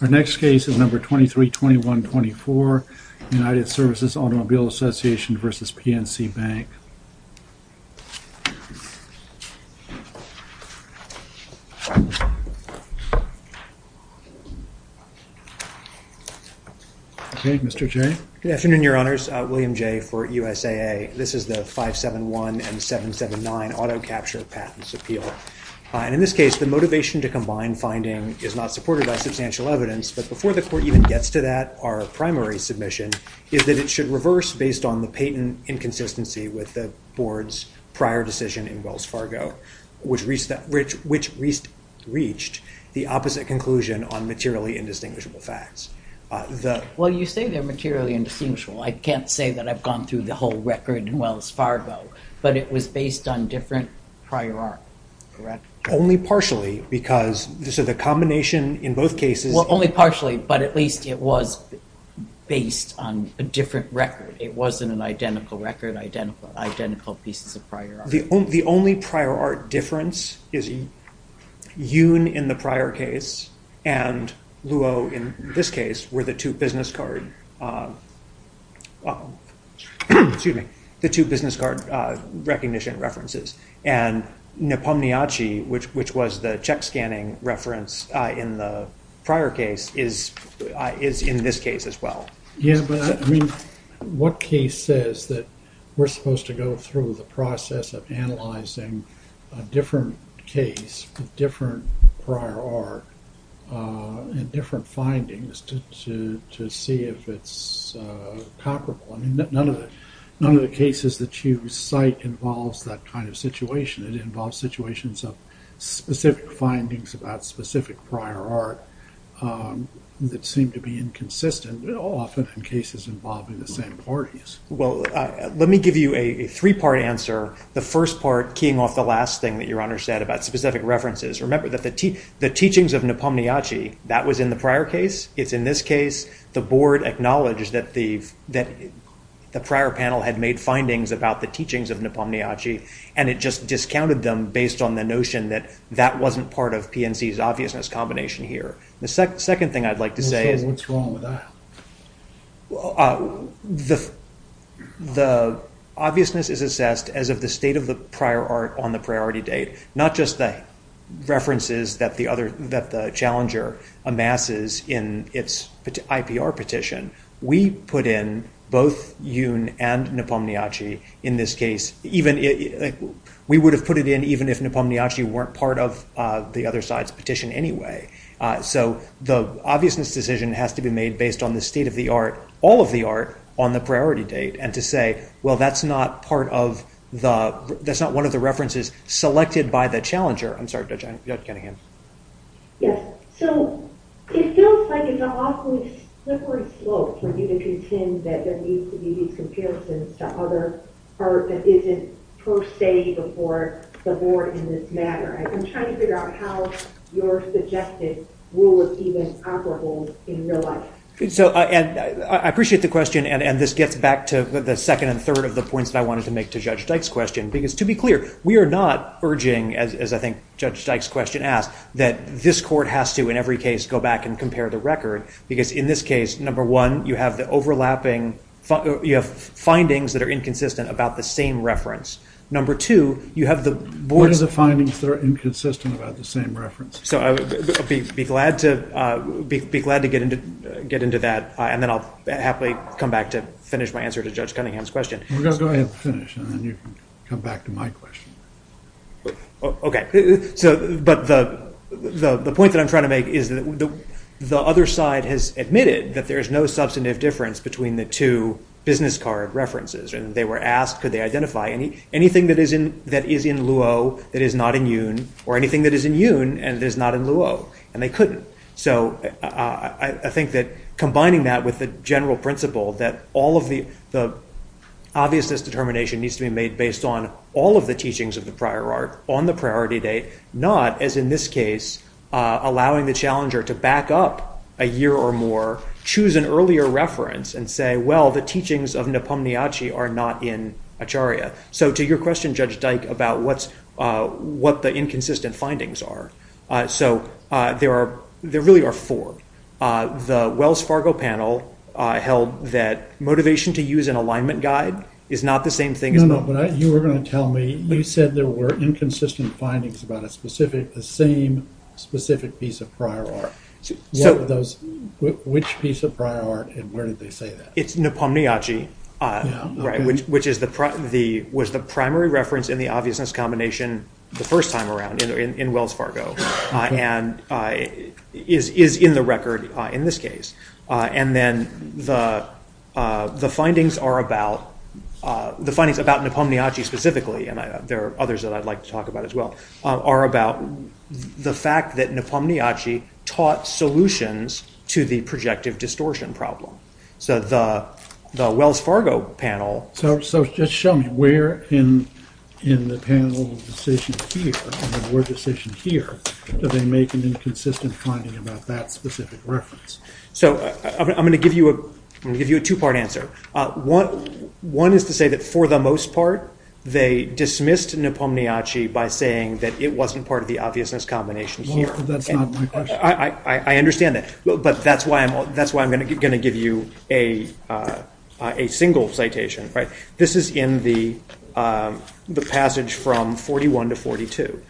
Our next case is number 232124, United Services Automobile Association v. PNC Bank. Okay, Mr. Jay. Good afternoon, Your Honors. William Jay for USAA. This is the 571 and 779 Auto Capture Patents Appeal. In this case, the motivation to combine finding is not supported by substantial evidence, but before the Court even gets to that, our primary submission is that it should reverse based on the patent inconsistency with the Board's prior decision in Wells Fargo, which reached the opposite conclusion on materially indistinguishable facts. Well, you say they're materially indistinguishable. I can't say that I've gone through the whole record in Wells Fargo, but it was based on different prior art. Only partially, because the combination in both cases... Well, only partially, but at least it was based on a different record. It wasn't an identical record, identical pieces of prior art. The only prior art difference is Yoon in the prior case and Luo in this case were the two business card recognition references. And Nepomniachtchi, which was the check scanning reference in the prior case, is in this case as well. Yeah, but what case says that we're supposed to go through the process of analyzing a different case with different prior art and different findings to see if it's comparable? None of the cases that you cite involves that kind of situation. It involves situations of specific findings about specific prior art that seem to be inconsistent, often in cases involving the same parties. Well, let me give you a three-part answer. The first part keying off the last thing that Your Honor said about specific references. Remember that the teachings of Nepomniachtchi, that was in the prior case. It's in this case. The board acknowledged that the prior panel had made findings about the teachings of Nepomniachtchi, and it just discounted them based on the notion that that wasn't part of PNC's obviousness combination here. The second thing I'd like to say is... So what's wrong with that? The obviousness is assessed as of the state of the prior art on the priority date, not just the references that the challenger amasses in its IPR petition. We put in both Jun and Nepomniachtchi in this case. We would have put it in even if Nepomniachtchi weren't part of the other side's petition anyway. So the obviousness decision has to be made based on the state of the art, all of the art, on the priority date, and to say, well, that's not one of the references selected by the challenger. I'm sorry, Judge Cunningham. Yes. So it feels like it's an awfully slippery slope for you to contend that there needs to be these comparisons to other art that isn't per se before the board in this matter. I'm trying to figure out how your suggested rule is even operable in real life. I appreciate the question, and this gets back to the second and third of the points that I wanted to make to Judge Dyke's question, because to be clear, we are not urging, as I think Judge Dyke's question asked, that this court has to in every case go back and compare the record, because in this case, number one, you have the overlapping findings that are inconsistent about the same reference. Number two, you have the board's- What are the findings that are inconsistent about the same reference? Be glad to get into that, and then I'll happily come back to finish my answer to Judge Cunningham's question. Go ahead and finish, and then you can come back to my question. Okay. But the point that I'm trying to make is that the other side has admitted that there is no substantive difference between the two business card references, and they were asked could they identify anything that is in Luo that is not in Yun, or anything that is in Yun and is not in Luo, and they couldn't. So I think that combining that with the general principle that all of the obviousness determination needs to be made based on all of the teachings of the prior art on the priority date, not, as in this case, allowing the challenger to back up a year or more, choose an earlier reference and say, well, the teachings of Nepomniachtchi are not in Acharya. So to your question, Judge Dyke, about what the inconsistent findings are, so there really are four. The Wells Fargo panel held that motivation to use an alignment guide is not the same thing as- No, no, but you were going to tell me, you said there were inconsistent findings about a specific, the same specific piece of prior art. Which piece of prior art, and where did they say that? It's Nepomniachtchi, which was the primary reference in the obviousness combination the first time around in Wells Fargo, and is in the record in this case. And then the findings are about, the findings about Nepomniachtchi specifically, and there are others that I'd like to talk about as well, are about the fact that Nepomniachtchi taught solutions to the projective distortion problem. So the Wells Fargo panel- So just show me where in the panel decision here, in the word decision here, do they make an inconsistent finding about that specific reference? So I'm going to give you a two-part answer. One is to say that for the most part they dismissed Nepomniachtchi by saying that it wasn't part of the obviousness combination here. That's not my question. I understand that, but that's why I'm going to give you a single citation. This is in the passage from 41 to 42.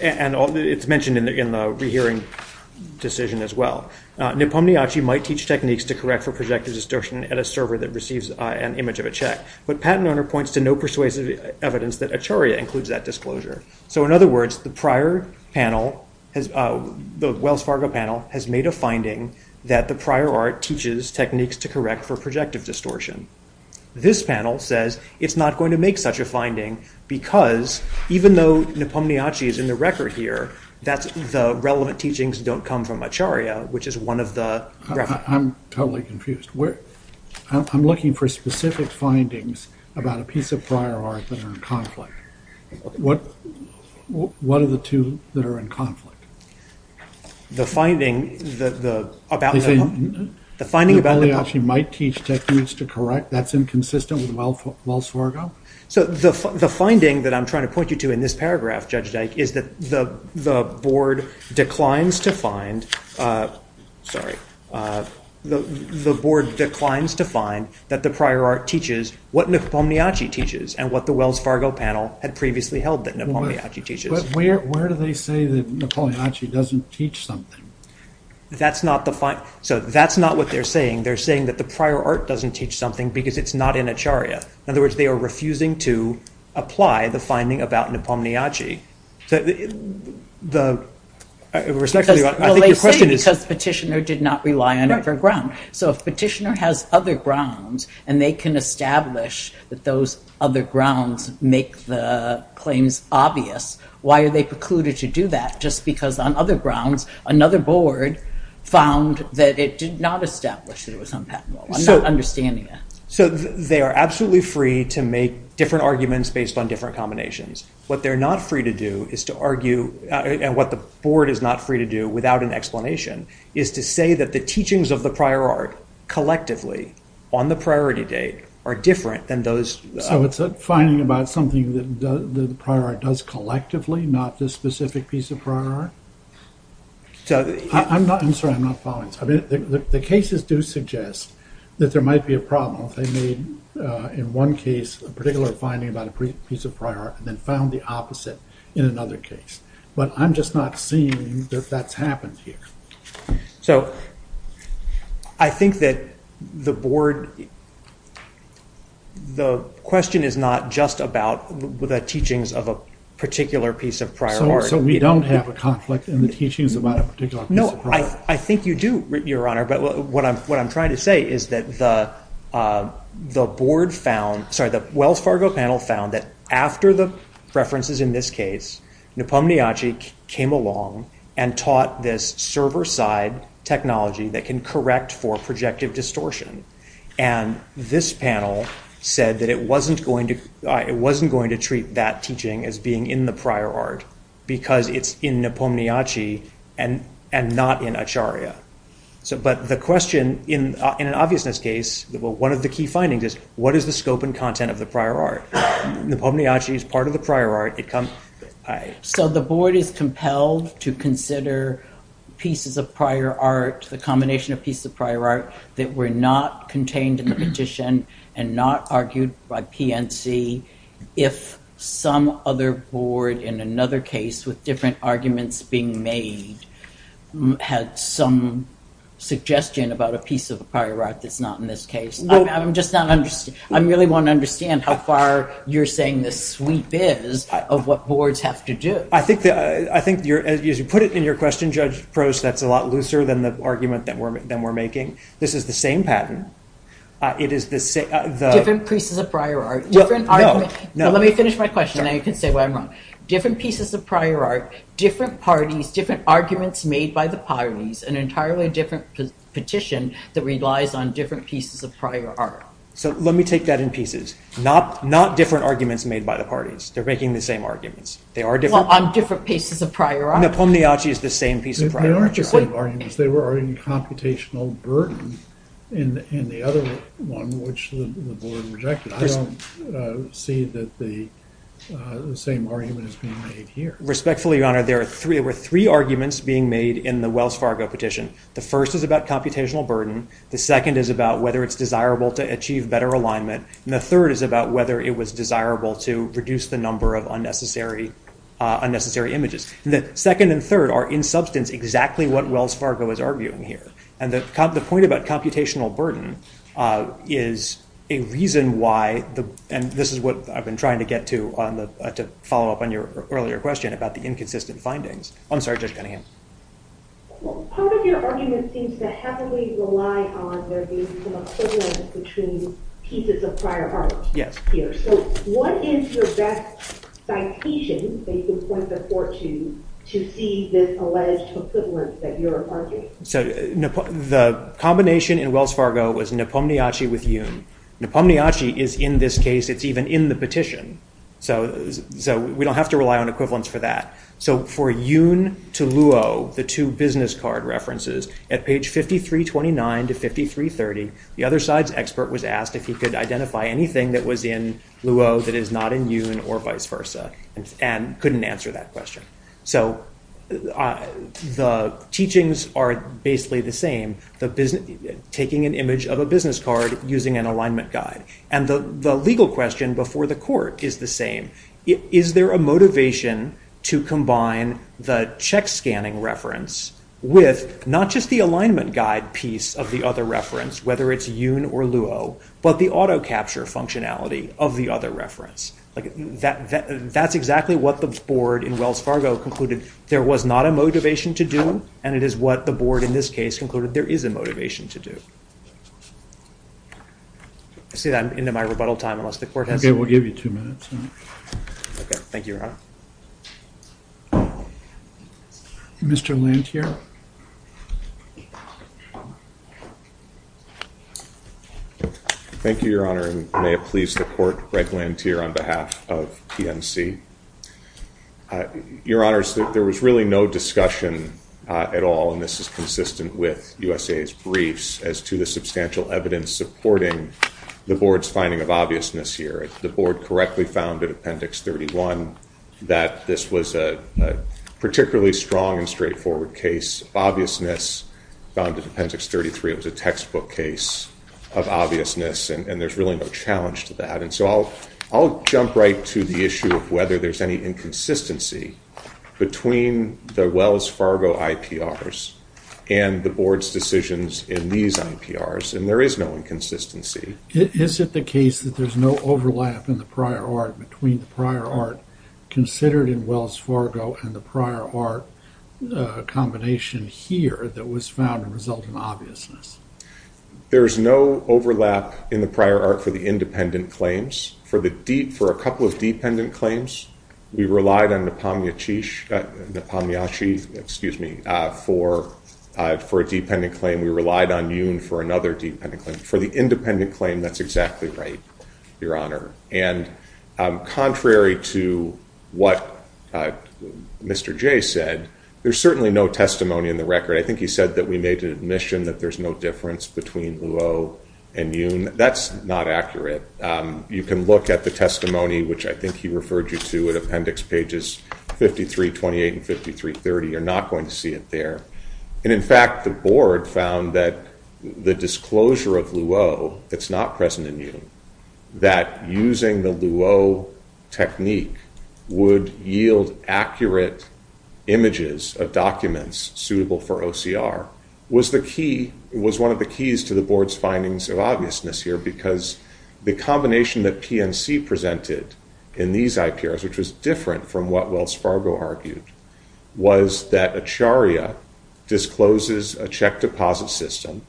It's mentioned in the rehearing decision as well. Nepomniachtchi might teach techniques to correct for projective distortion at a server that receives an image of a check, but PatentOwner points to no persuasive evidence that Acharya includes that disclosure. So in other words, the prior panel, the Wells Fargo panel, has made a finding that the prior art teaches techniques to correct for projective distortion. This panel says it's not going to make such a finding because even though Nepomniachtchi is in the record here, the relevant teachings don't come from Acharya, which is one of the references. I'm totally confused. I'm looking for specific findings about a piece of prior art that are in conflict. What are the two that are in conflict? The finding about Nepomniachtchi might teach techniques to correct. That's inconsistent with Wells Fargo? So the finding that I'm trying to point you to in this paragraph, Judge Dyke, is that the board declines to find that the prior art teaches what Nepomniachtchi teaches and what the Wells Fargo panel had previously held that Nepomniachtchi teaches. But where do they say that Nepomniachtchi doesn't teach something? That's not what they're saying. They're saying that the prior art doesn't teach something because it's not in Acharya. In other words, they are refusing to apply the finding about Nepomniachtchi. Well, they say it because Petitioner did not rely on it for ground. So if Petitioner has other grounds and they can establish that those other grounds make the claims obvious, why are they precluded to do that just because on other grounds, another board found that it did not establish that it was unpatentable? I'm not understanding that. So they are absolutely free to make different arguments based on different combinations. What they're not free to do is to argue, and what the board is not free to do without an explanation, is to say that the teachings of the prior art collectively on the priority date are different than those... So it's a finding about something that the prior art does collectively, not the specific piece of prior art? I'm sorry, I'm not following. The cases do suggest that there might be a problem if they made, in one case, a particular finding about a piece of prior art and then found the opposite in another case. But I'm just not seeing that that's happened here. So I think that the board... The question is not just about the teachings of a particular piece of prior art. So we don't have a conflict in the teachings about a particular piece of prior art? I think you do, Your Honor, but what I'm trying to say is that the board found... Sorry, the Wells Fargo panel found that after the references in this case, Nipomniachtchi came along and taught this server-side technology that can correct for projective distortion. And this panel said that it wasn't going to treat that teaching as being in the prior art because it's in Nipomniachtchi and not in Acharya. But the question, in an obviousness case, one of the key findings is, what is the scope and content of the prior art? Nipomniachtchi is part of the prior art. So the board is compelled to consider pieces of prior art, the combination of pieces of prior art that were not contained in the petition and not argued by PNC if some other board in another case, with different arguments being made, had some suggestion about a piece of prior art that's not in this case. I really want to understand how far you're saying the sweep is of what boards have to do. I think, as you put it in your question, Judge Prost, that's a lot looser than the argument that we're making. This is the same pattern. Different pieces of prior art. Let me finish my question and then you can say why I'm wrong. Different pieces of prior art, different parties, different arguments made by the parties, an entirely different petition that relies on different pieces of prior art. So let me take that in pieces. Not different arguments made by the parties. They're making the same arguments. Well, on different pieces of prior art. Nipomniachtchi is the same piece of prior art. They aren't the same arguments. They are in computational burden in the other one, which the board rejected. I don't see that the same argument is being made here. Respectfully, Your Honor, there were three arguments being made in the Wells Fargo petition. The first is about computational burden. The second is about whether it's desirable to achieve better alignment. And the third is about whether it was desirable to reduce the number of unnecessary images. The second and third are in substance exactly what Wells Fargo is arguing here. And the point about computational burden is a reason why, and this is what I've been trying to get to to follow up on your earlier question about the inconsistent findings. I'm sorry, Judge Cunningham. Part of your argument seems to heavily rely on there being some equivalence between pieces of prior art. Yes. So what is your best citation that you can point the court to to see this alleged equivalence that you're arguing? So the combination in Wells Fargo was Nipomniachtchi with Juhn. Nipomniachtchi is in this case, it's even in the petition. So we don't have to rely on equivalence for that. So for Juhn to Luo, the two business card references, at page 5329 to 5330, the other side's expert was asked if he could identify anything that was in Luo that is not in Juhn or vice versa and couldn't answer that question. So the teachings are basically the same, taking an image of a business card using an alignment guide. And the legal question before the court is the same. Is there a motivation to combine the check scanning reference with not just the alignment guide piece of the other reference, whether it's Juhn or Luo, but the auto capture functionality of the other reference? That's exactly what the board in Wells Fargo concluded there was not a motivation to do and it is what the board in this case concluded there is a motivation to do. I say that into my rebuttal time unless the court has to. Okay, we'll give you two minutes. Thank you, Your Honor. Mr. Lanthier. Thank you, Your Honor, and may it please the court, Greg Lanthier on behalf of PNC. Your Honor, there was really no discussion at all, and this is consistent with USA's briefs, as to the substantial evidence supporting the board's finding of obviousness here. The board correctly found in Appendix 31 that this was a particularly strong and straightforward case. Obviousness found in Appendix 33 was a textbook case of obviousness, and there's really no challenge to that. And so I'll jump right to the issue of whether there's any inconsistency between the Wells Fargo IPRs and the board's decisions in these IPRs, and there is no inconsistency. Is it the case that there's no overlap in the prior art between the prior art considered in Wells Fargo and the prior art combination here that was found to result in obviousness? There is no overlap in the prior art for the independent claims. For a couple of dependent claims, we relied on Nepomniachtchi for a dependent claim. We relied on Yoon for another dependent claim. For the independent claim, that's exactly right, Your Honor. And contrary to what Mr. Jay said, there's certainly no testimony in the record. I think he said that we made an admission that there's no difference between Luo and Yoon. That's not accurate. You can look at the testimony, which I think he referred you to, at Appendix Pages 53, 28, and 53, 30. You're not going to see it there. And, in fact, the board found that the disclosure of Luo that's not present in Yoon, that using the Luo technique would yield accurate images of documents suitable for OCR, was one of the keys to the board's findings of obviousness here because the combination that PNC presented in these IPRs, which was different from what Wells Fargo argued, was that Acharya discloses a checked deposit system.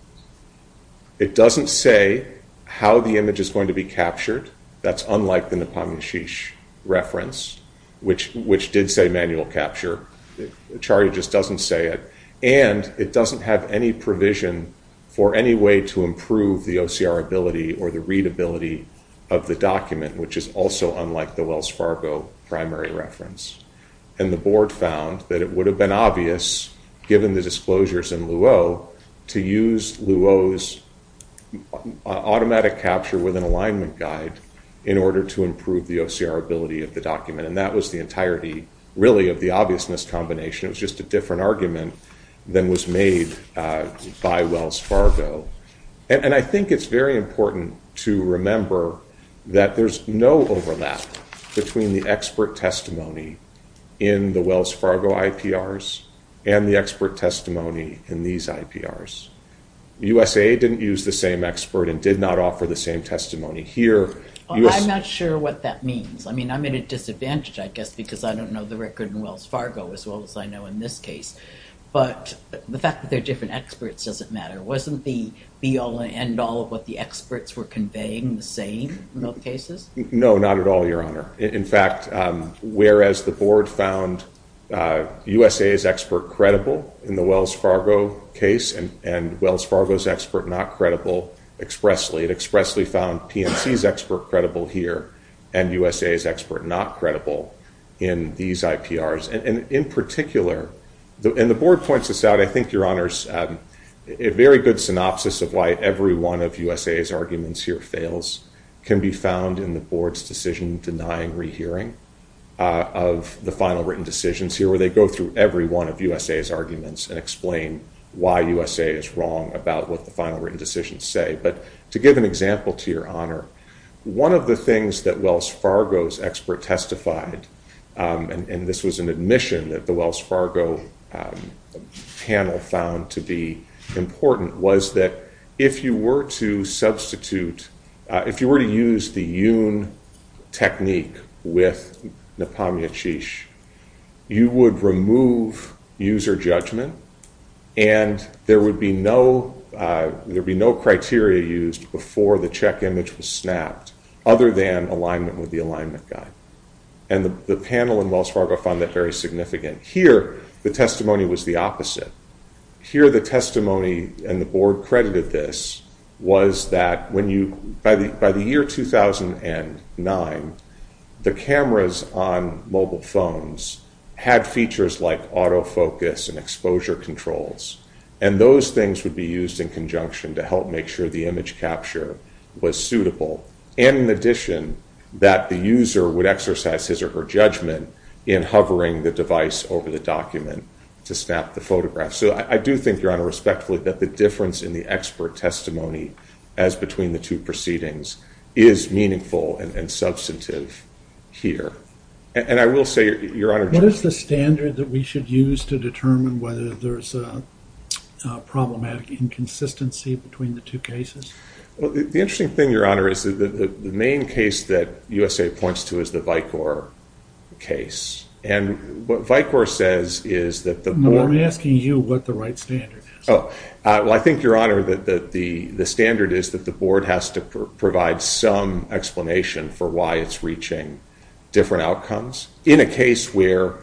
It doesn't say how the image is going to be captured. That's unlike the Nepomniachtchi reference, which did say manual capture. Acharya just doesn't say it. And it doesn't have any provision for any way to improve the OCR ability or the readability of the document, which is also unlike the Wells Fargo primary reference. And the board found that it would have been obvious, given the disclosures in Luo, to use Luo's automatic capture with an alignment guide in order to improve the OCR ability of the document. And that was the entirety, really, of the obviousness combination. It was just a different argument than was made by Wells Fargo. And I think it's very important to remember that there's no overlap between the expert testimony in the Wells Fargo IPRs and the expert testimony in these IPRs. USA didn't use the same expert and did not offer the same testimony. Here, USA... I'm not sure what that means. I mean, I'm at a disadvantage, I guess, because I don't know the record in Wells Fargo as well as I know in this case. But the fact that they're different experts doesn't matter. Wasn't the be-all and end-all of what the experts were conveying the same in both cases? No, not at all, Your Honor. In fact, whereas the board found USA's expert credible in the Wells Fargo case and Wells Fargo's expert not credible expressly, it expressly found PNC's expert credible here and USA's expert not credible in these IPRs. And in particular, and the board points this out, I think, Your Honors, a very good synopsis of why every one of USA's arguments here fails can be found in the board's decision-denying rehearing of the final written decisions here, where they go through every one of USA's arguments and explain why USA is wrong about what the final written decisions say. But to give an example to Your Honor, one of the things that Wells Fargo's expert testified, and this was an admission that the Wells Fargo panel found to be important, was that if you were to substitute, if you were to use the Yoon technique with Nepomniachtchik, you would remove user judgment and there would be no criteria used before the check image was snapped, other than alignment with the alignment guide. And the panel in Wells Fargo found that very significant. Here, the testimony was the opposite. Here, the testimony, and the board credited this, was that by the year 2009, the cameras on mobile phones had features like autofocus and exposure controls, and those things would be used in conjunction to help make sure the image capture was suitable. And in addition, that the user would exercise his or her judgment in hovering the device over the document to snap the photograph. So I do think, Your Honor, respectfully, that the difference in the expert testimony as between the two proceedings is meaningful and substantive here. And I will say, Your Honor, what is the standard that we should use to determine whether there is a problematic inconsistency between the two cases? Well, the interesting thing, Your Honor, is that the main case that USAID points to is the Vicor case. And what Vicor says is that the board... No, I'm asking you what the right standard is. Well, I think, Your Honor, that the standard is that the board has to provide some explanation for why it's reaching different outcomes in a case where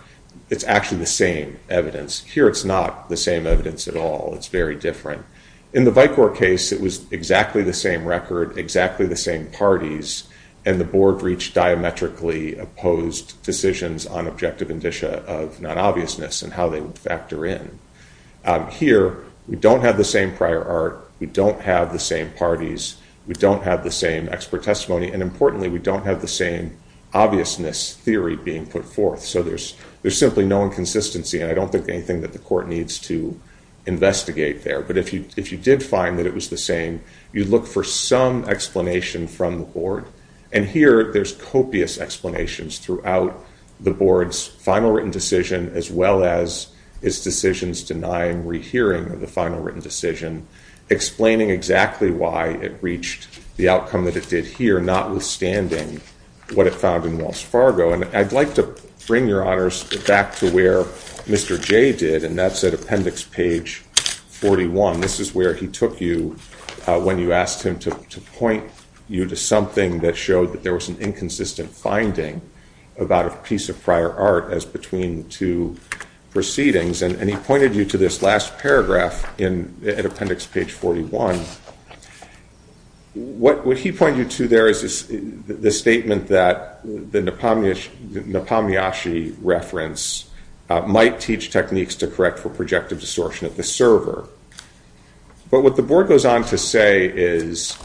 it's actually the same evidence. Here, it's not the same evidence at all. It's very different. In the Vicor case, it was exactly the same record, exactly the same parties, and the board reached diametrically opposed decisions on objective indicia of non-obviousness and how they would factor in. Here, we don't have the same prior art, we don't have the same parties, we don't have the same expert testimony, and importantly, we don't have the same obviousness theory being put forth. So there's simply no inconsistency, and I don't think anything that the court needs to investigate there. But if you did find that it was the same, you'd look for some explanation from the board. And here, there's copious explanations throughout the board's final written decision as well as its decisions denying rehearing of the final written decision, explaining exactly why it reached the outcome that it did here, notwithstanding what it found in Wells Fargo. And I'd like to bring your honors back to where Mr. Jay did, and that's at appendix page 41. This is where he took you when you asked him to point you to something that showed that there was an inconsistent finding about a piece of prior art as between two proceedings. And he pointed you to this last paragraph at appendix page 41. What he pointed you to there is the statement that the Nepomniachtchi reference might teach techniques to correct for projective distortion of the server. But what the board goes on to say is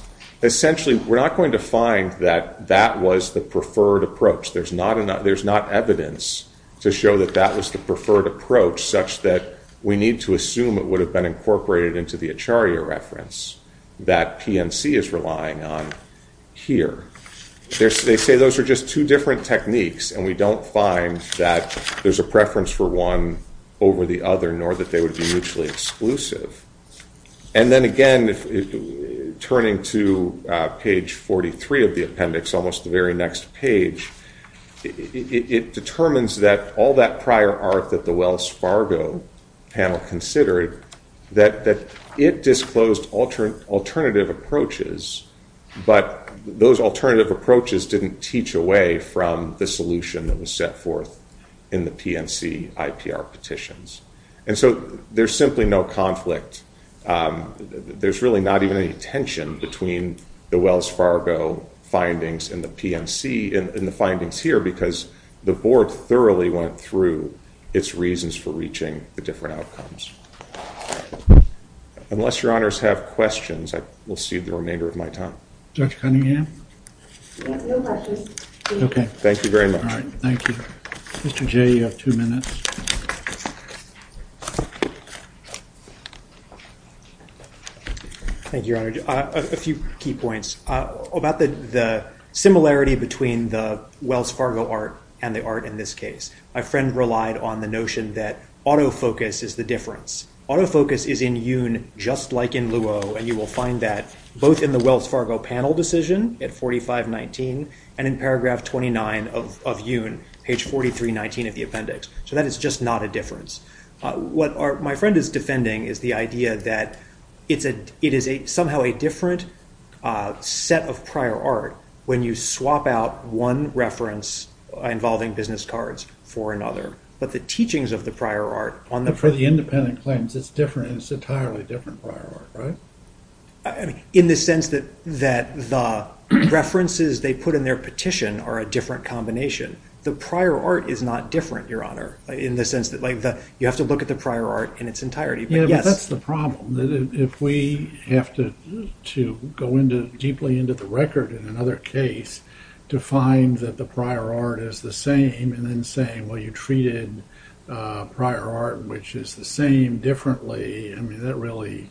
essentially we're not going to find that that was the preferred approach. There's not evidence to show that that was the preferred approach such that we need to assume it would have been incorporated into the Acharya reference that PMC is relying on here. They say those are just two different techniques, and we don't find that there's a preference for one over the other, nor that they would be mutually exclusive. And then again, turning to page 43 of the appendix, almost the very next page, it determines that all that prior art that the Wells Fargo panel considered, that it disclosed alternative approaches, but those alternative approaches didn't teach away from the solution that was set forth in the PMC IPR petitions. And so there's simply no conflict. There's really not even any tension between the Wells Fargo findings and the PMC in the findings here, because the board thoroughly went through its reasons for reaching the different outcomes. Unless your honors have questions, I will cede the remainder of my time. Judge Cunningham? No questions. Okay. Thank you very much. All right. Thank you. Mr. Jay, you have two minutes. Thank you, Your Honor. A few key points about the similarity between the Wells Fargo art and the art in this case. My friend relied on the notion that autofocus is the difference. Autofocus is in Yoon just like in Luo, and you will find that both in the Wells Fargo panel decision at 4519 and in paragraph 29 of Yoon, page 4319 of the appendix. So that is just not a difference. What my friend is defending is the idea that it is somehow a different set of prior art when you swap out one reference involving business cards for another. But the teachings of the prior art on the- But for the independent claims, it's different. It's entirely different prior art, right? In the sense that the references they put in their petition are a different combination. The prior art is not different, Your Honor, in the sense that you have to look at the prior art in its entirety. Yeah, but that's the problem, that if we have to go deeply into the record in another case to find that the prior art is the same and then saying, well, you treated prior art, which is the same, differently. I mean, that really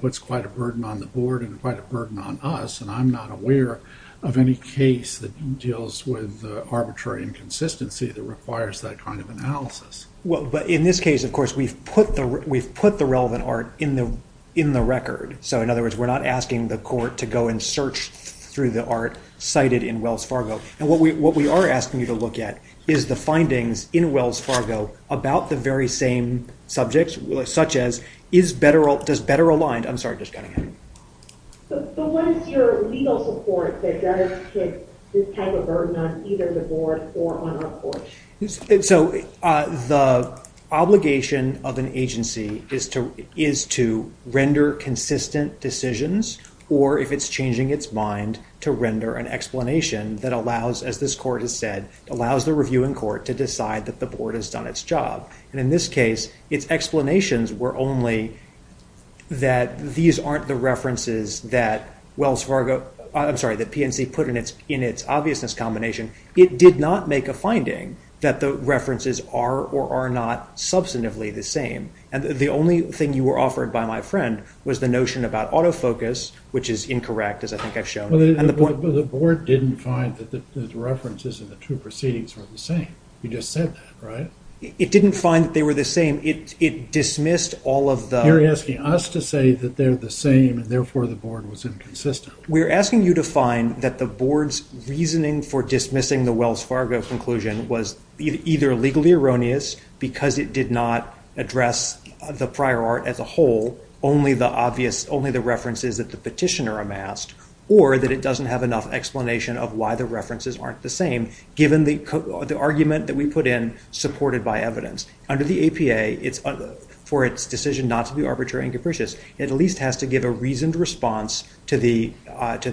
puts quite a burden on the board and quite a burden on us, and I'm not aware of any case that deals with arbitrary inconsistency that requires that kind of analysis. Well, but in this case, of course, we've put the relevant art in the record. So in other words, we're not asking the court to go and search through the art cited in Wells Fargo. And what we are asking you to look at is the findings in Wells Fargo about the very same subjects, such as does better aligned... I'm sorry, I'm just cutting in. But what is your legal support that does put this type of burden on either the board or on our court? So the obligation of an agency is to render consistent decisions or, if it's changing its mind, to render an explanation that allows, as this court has said, allows the reviewing court to decide that the board has done its job. And in this case, its explanations were only that these aren't the references that Wells Fargo... I'm sorry, that PNC put in its obviousness combination. It did not make a finding that the references are or are not substantively the same. And the only thing you were offered by my friend was the notion about autofocus, which is incorrect, as I think I've shown. But the board didn't find that the references in the two proceedings were the same. You just said that, right? It didn't find that they were the same. It dismissed all of the... You're asking us to say that they're the same and therefore the board was inconsistent. We're asking you to find that the board's reasoning for dismissing the Wells Fargo conclusion was either legally erroneous because it did not address the prior art as a whole, only the references that the petitioner amassed, or that it doesn't have enough explanation of why the references aren't the same, given the argument that we put in supported by evidence. Under the APA, for its decision not to be arbitrary and capricious, it at least has to give a reasoned response to the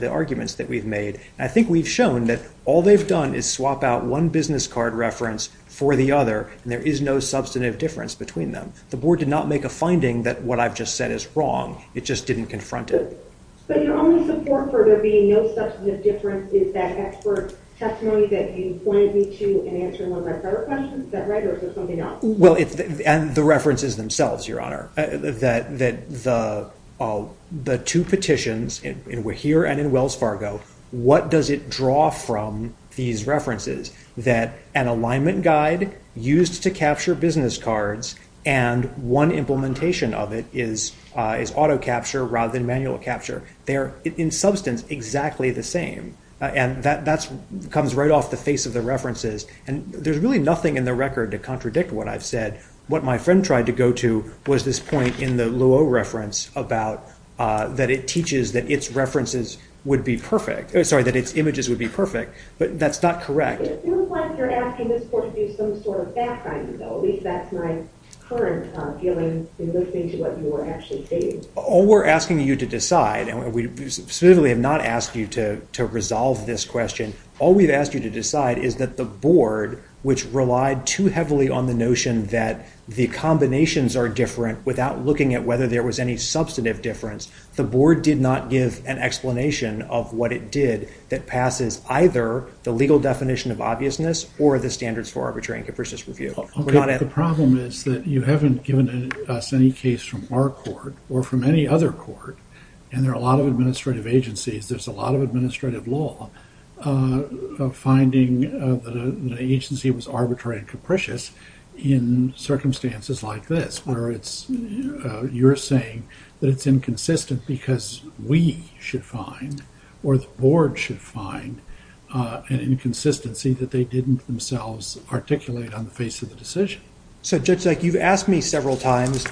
arguments that we've made. I think we've shown that all they've done is swap out one business card reference for the other, and there is no substantive difference between them. The board did not make a finding that what I've just said is wrong. It just didn't confront it. But your only support for there being no substantive difference is that expert testimony that you pointed me to in answering one of my prior questions? Is that right, or is there something else? The references themselves, Your Honor. The two petitions, in Wahir and in Wells Fargo, what does it draw from these references? That an alignment guide used to capture business cards and one implementation of it is auto-capture rather than manual capture. They are, in substance, exactly the same. That comes right off the face of the references. There's really nothing in the record to contradict what I've said. What my friend tried to go to was this point in the Luo reference that it teaches that its images would be perfect, but that's not correct. It seems like you're asking this court to do some sort of backgrounding, though. At least that's my current feeling in listening to what you were actually saying. All we're asking you to decide, and we specifically have not asked you to resolve this question, all we've asked you to decide is that the board, which relied too heavily on the notion that the combinations are different without looking at whether there was any substantive difference, the board did not give an explanation of what it did that passes either the legal definition of obviousness or the standards for arbitrary and capricious review. The problem is that you haven't given us any case from our court or from any other court, and there are a lot of administrative agencies, there's a lot of administrative law, finding that an agency was arbitrary and capricious in circumstances like this where you're saying that it's inconsistent because we should find or the board should find an inconsistency that they didn't themselves articulate on the face of the decision. So Judge Zeke, you've asked me several times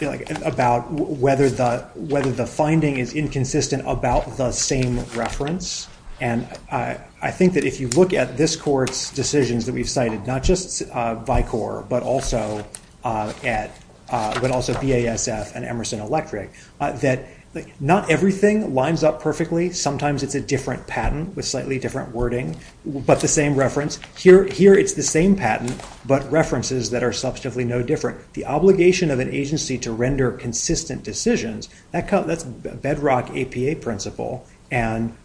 about whether the finding is inconsistent about the same reference, and I think that if you look at this court's decisions that we've cited, not just VICOR but also BASF and Emerson Electric, that not everything lines up perfectly. Sometimes it's a different patent with slightly different wording, but the same reference. Here it's the same patent but references that are substantively no different. The obligation of an agency to render consistent decisions, that's bedrock APA principle, and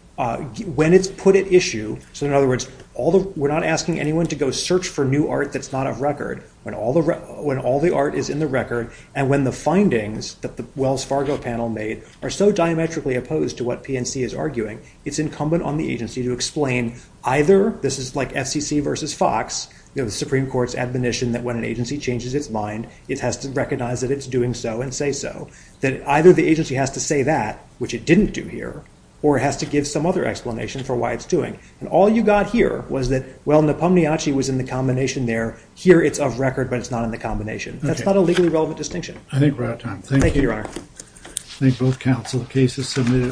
when it's put at issue, so in other words, we're not asking anyone to go search for new art that's not of record. When all the art is in the record and when the findings that the Wells Fargo panel made are so diametrically opposed to what PNC is arguing, it's incumbent on the agency to explain either, this is like FCC versus Fox, the Supreme Court's admonition that when an agency changes its mind, it has to recognize that it's doing so and say so, that either the agency has to say that, which it didn't do here, or it has to give some other explanation for why it's doing. And all you got here was that, well, Nopomniachtchi was in the combination there, here it's of record but it's not in the combination. That's not a legally relevant distinction. I think we're out of time. Thank you. Thank you, Your Honor.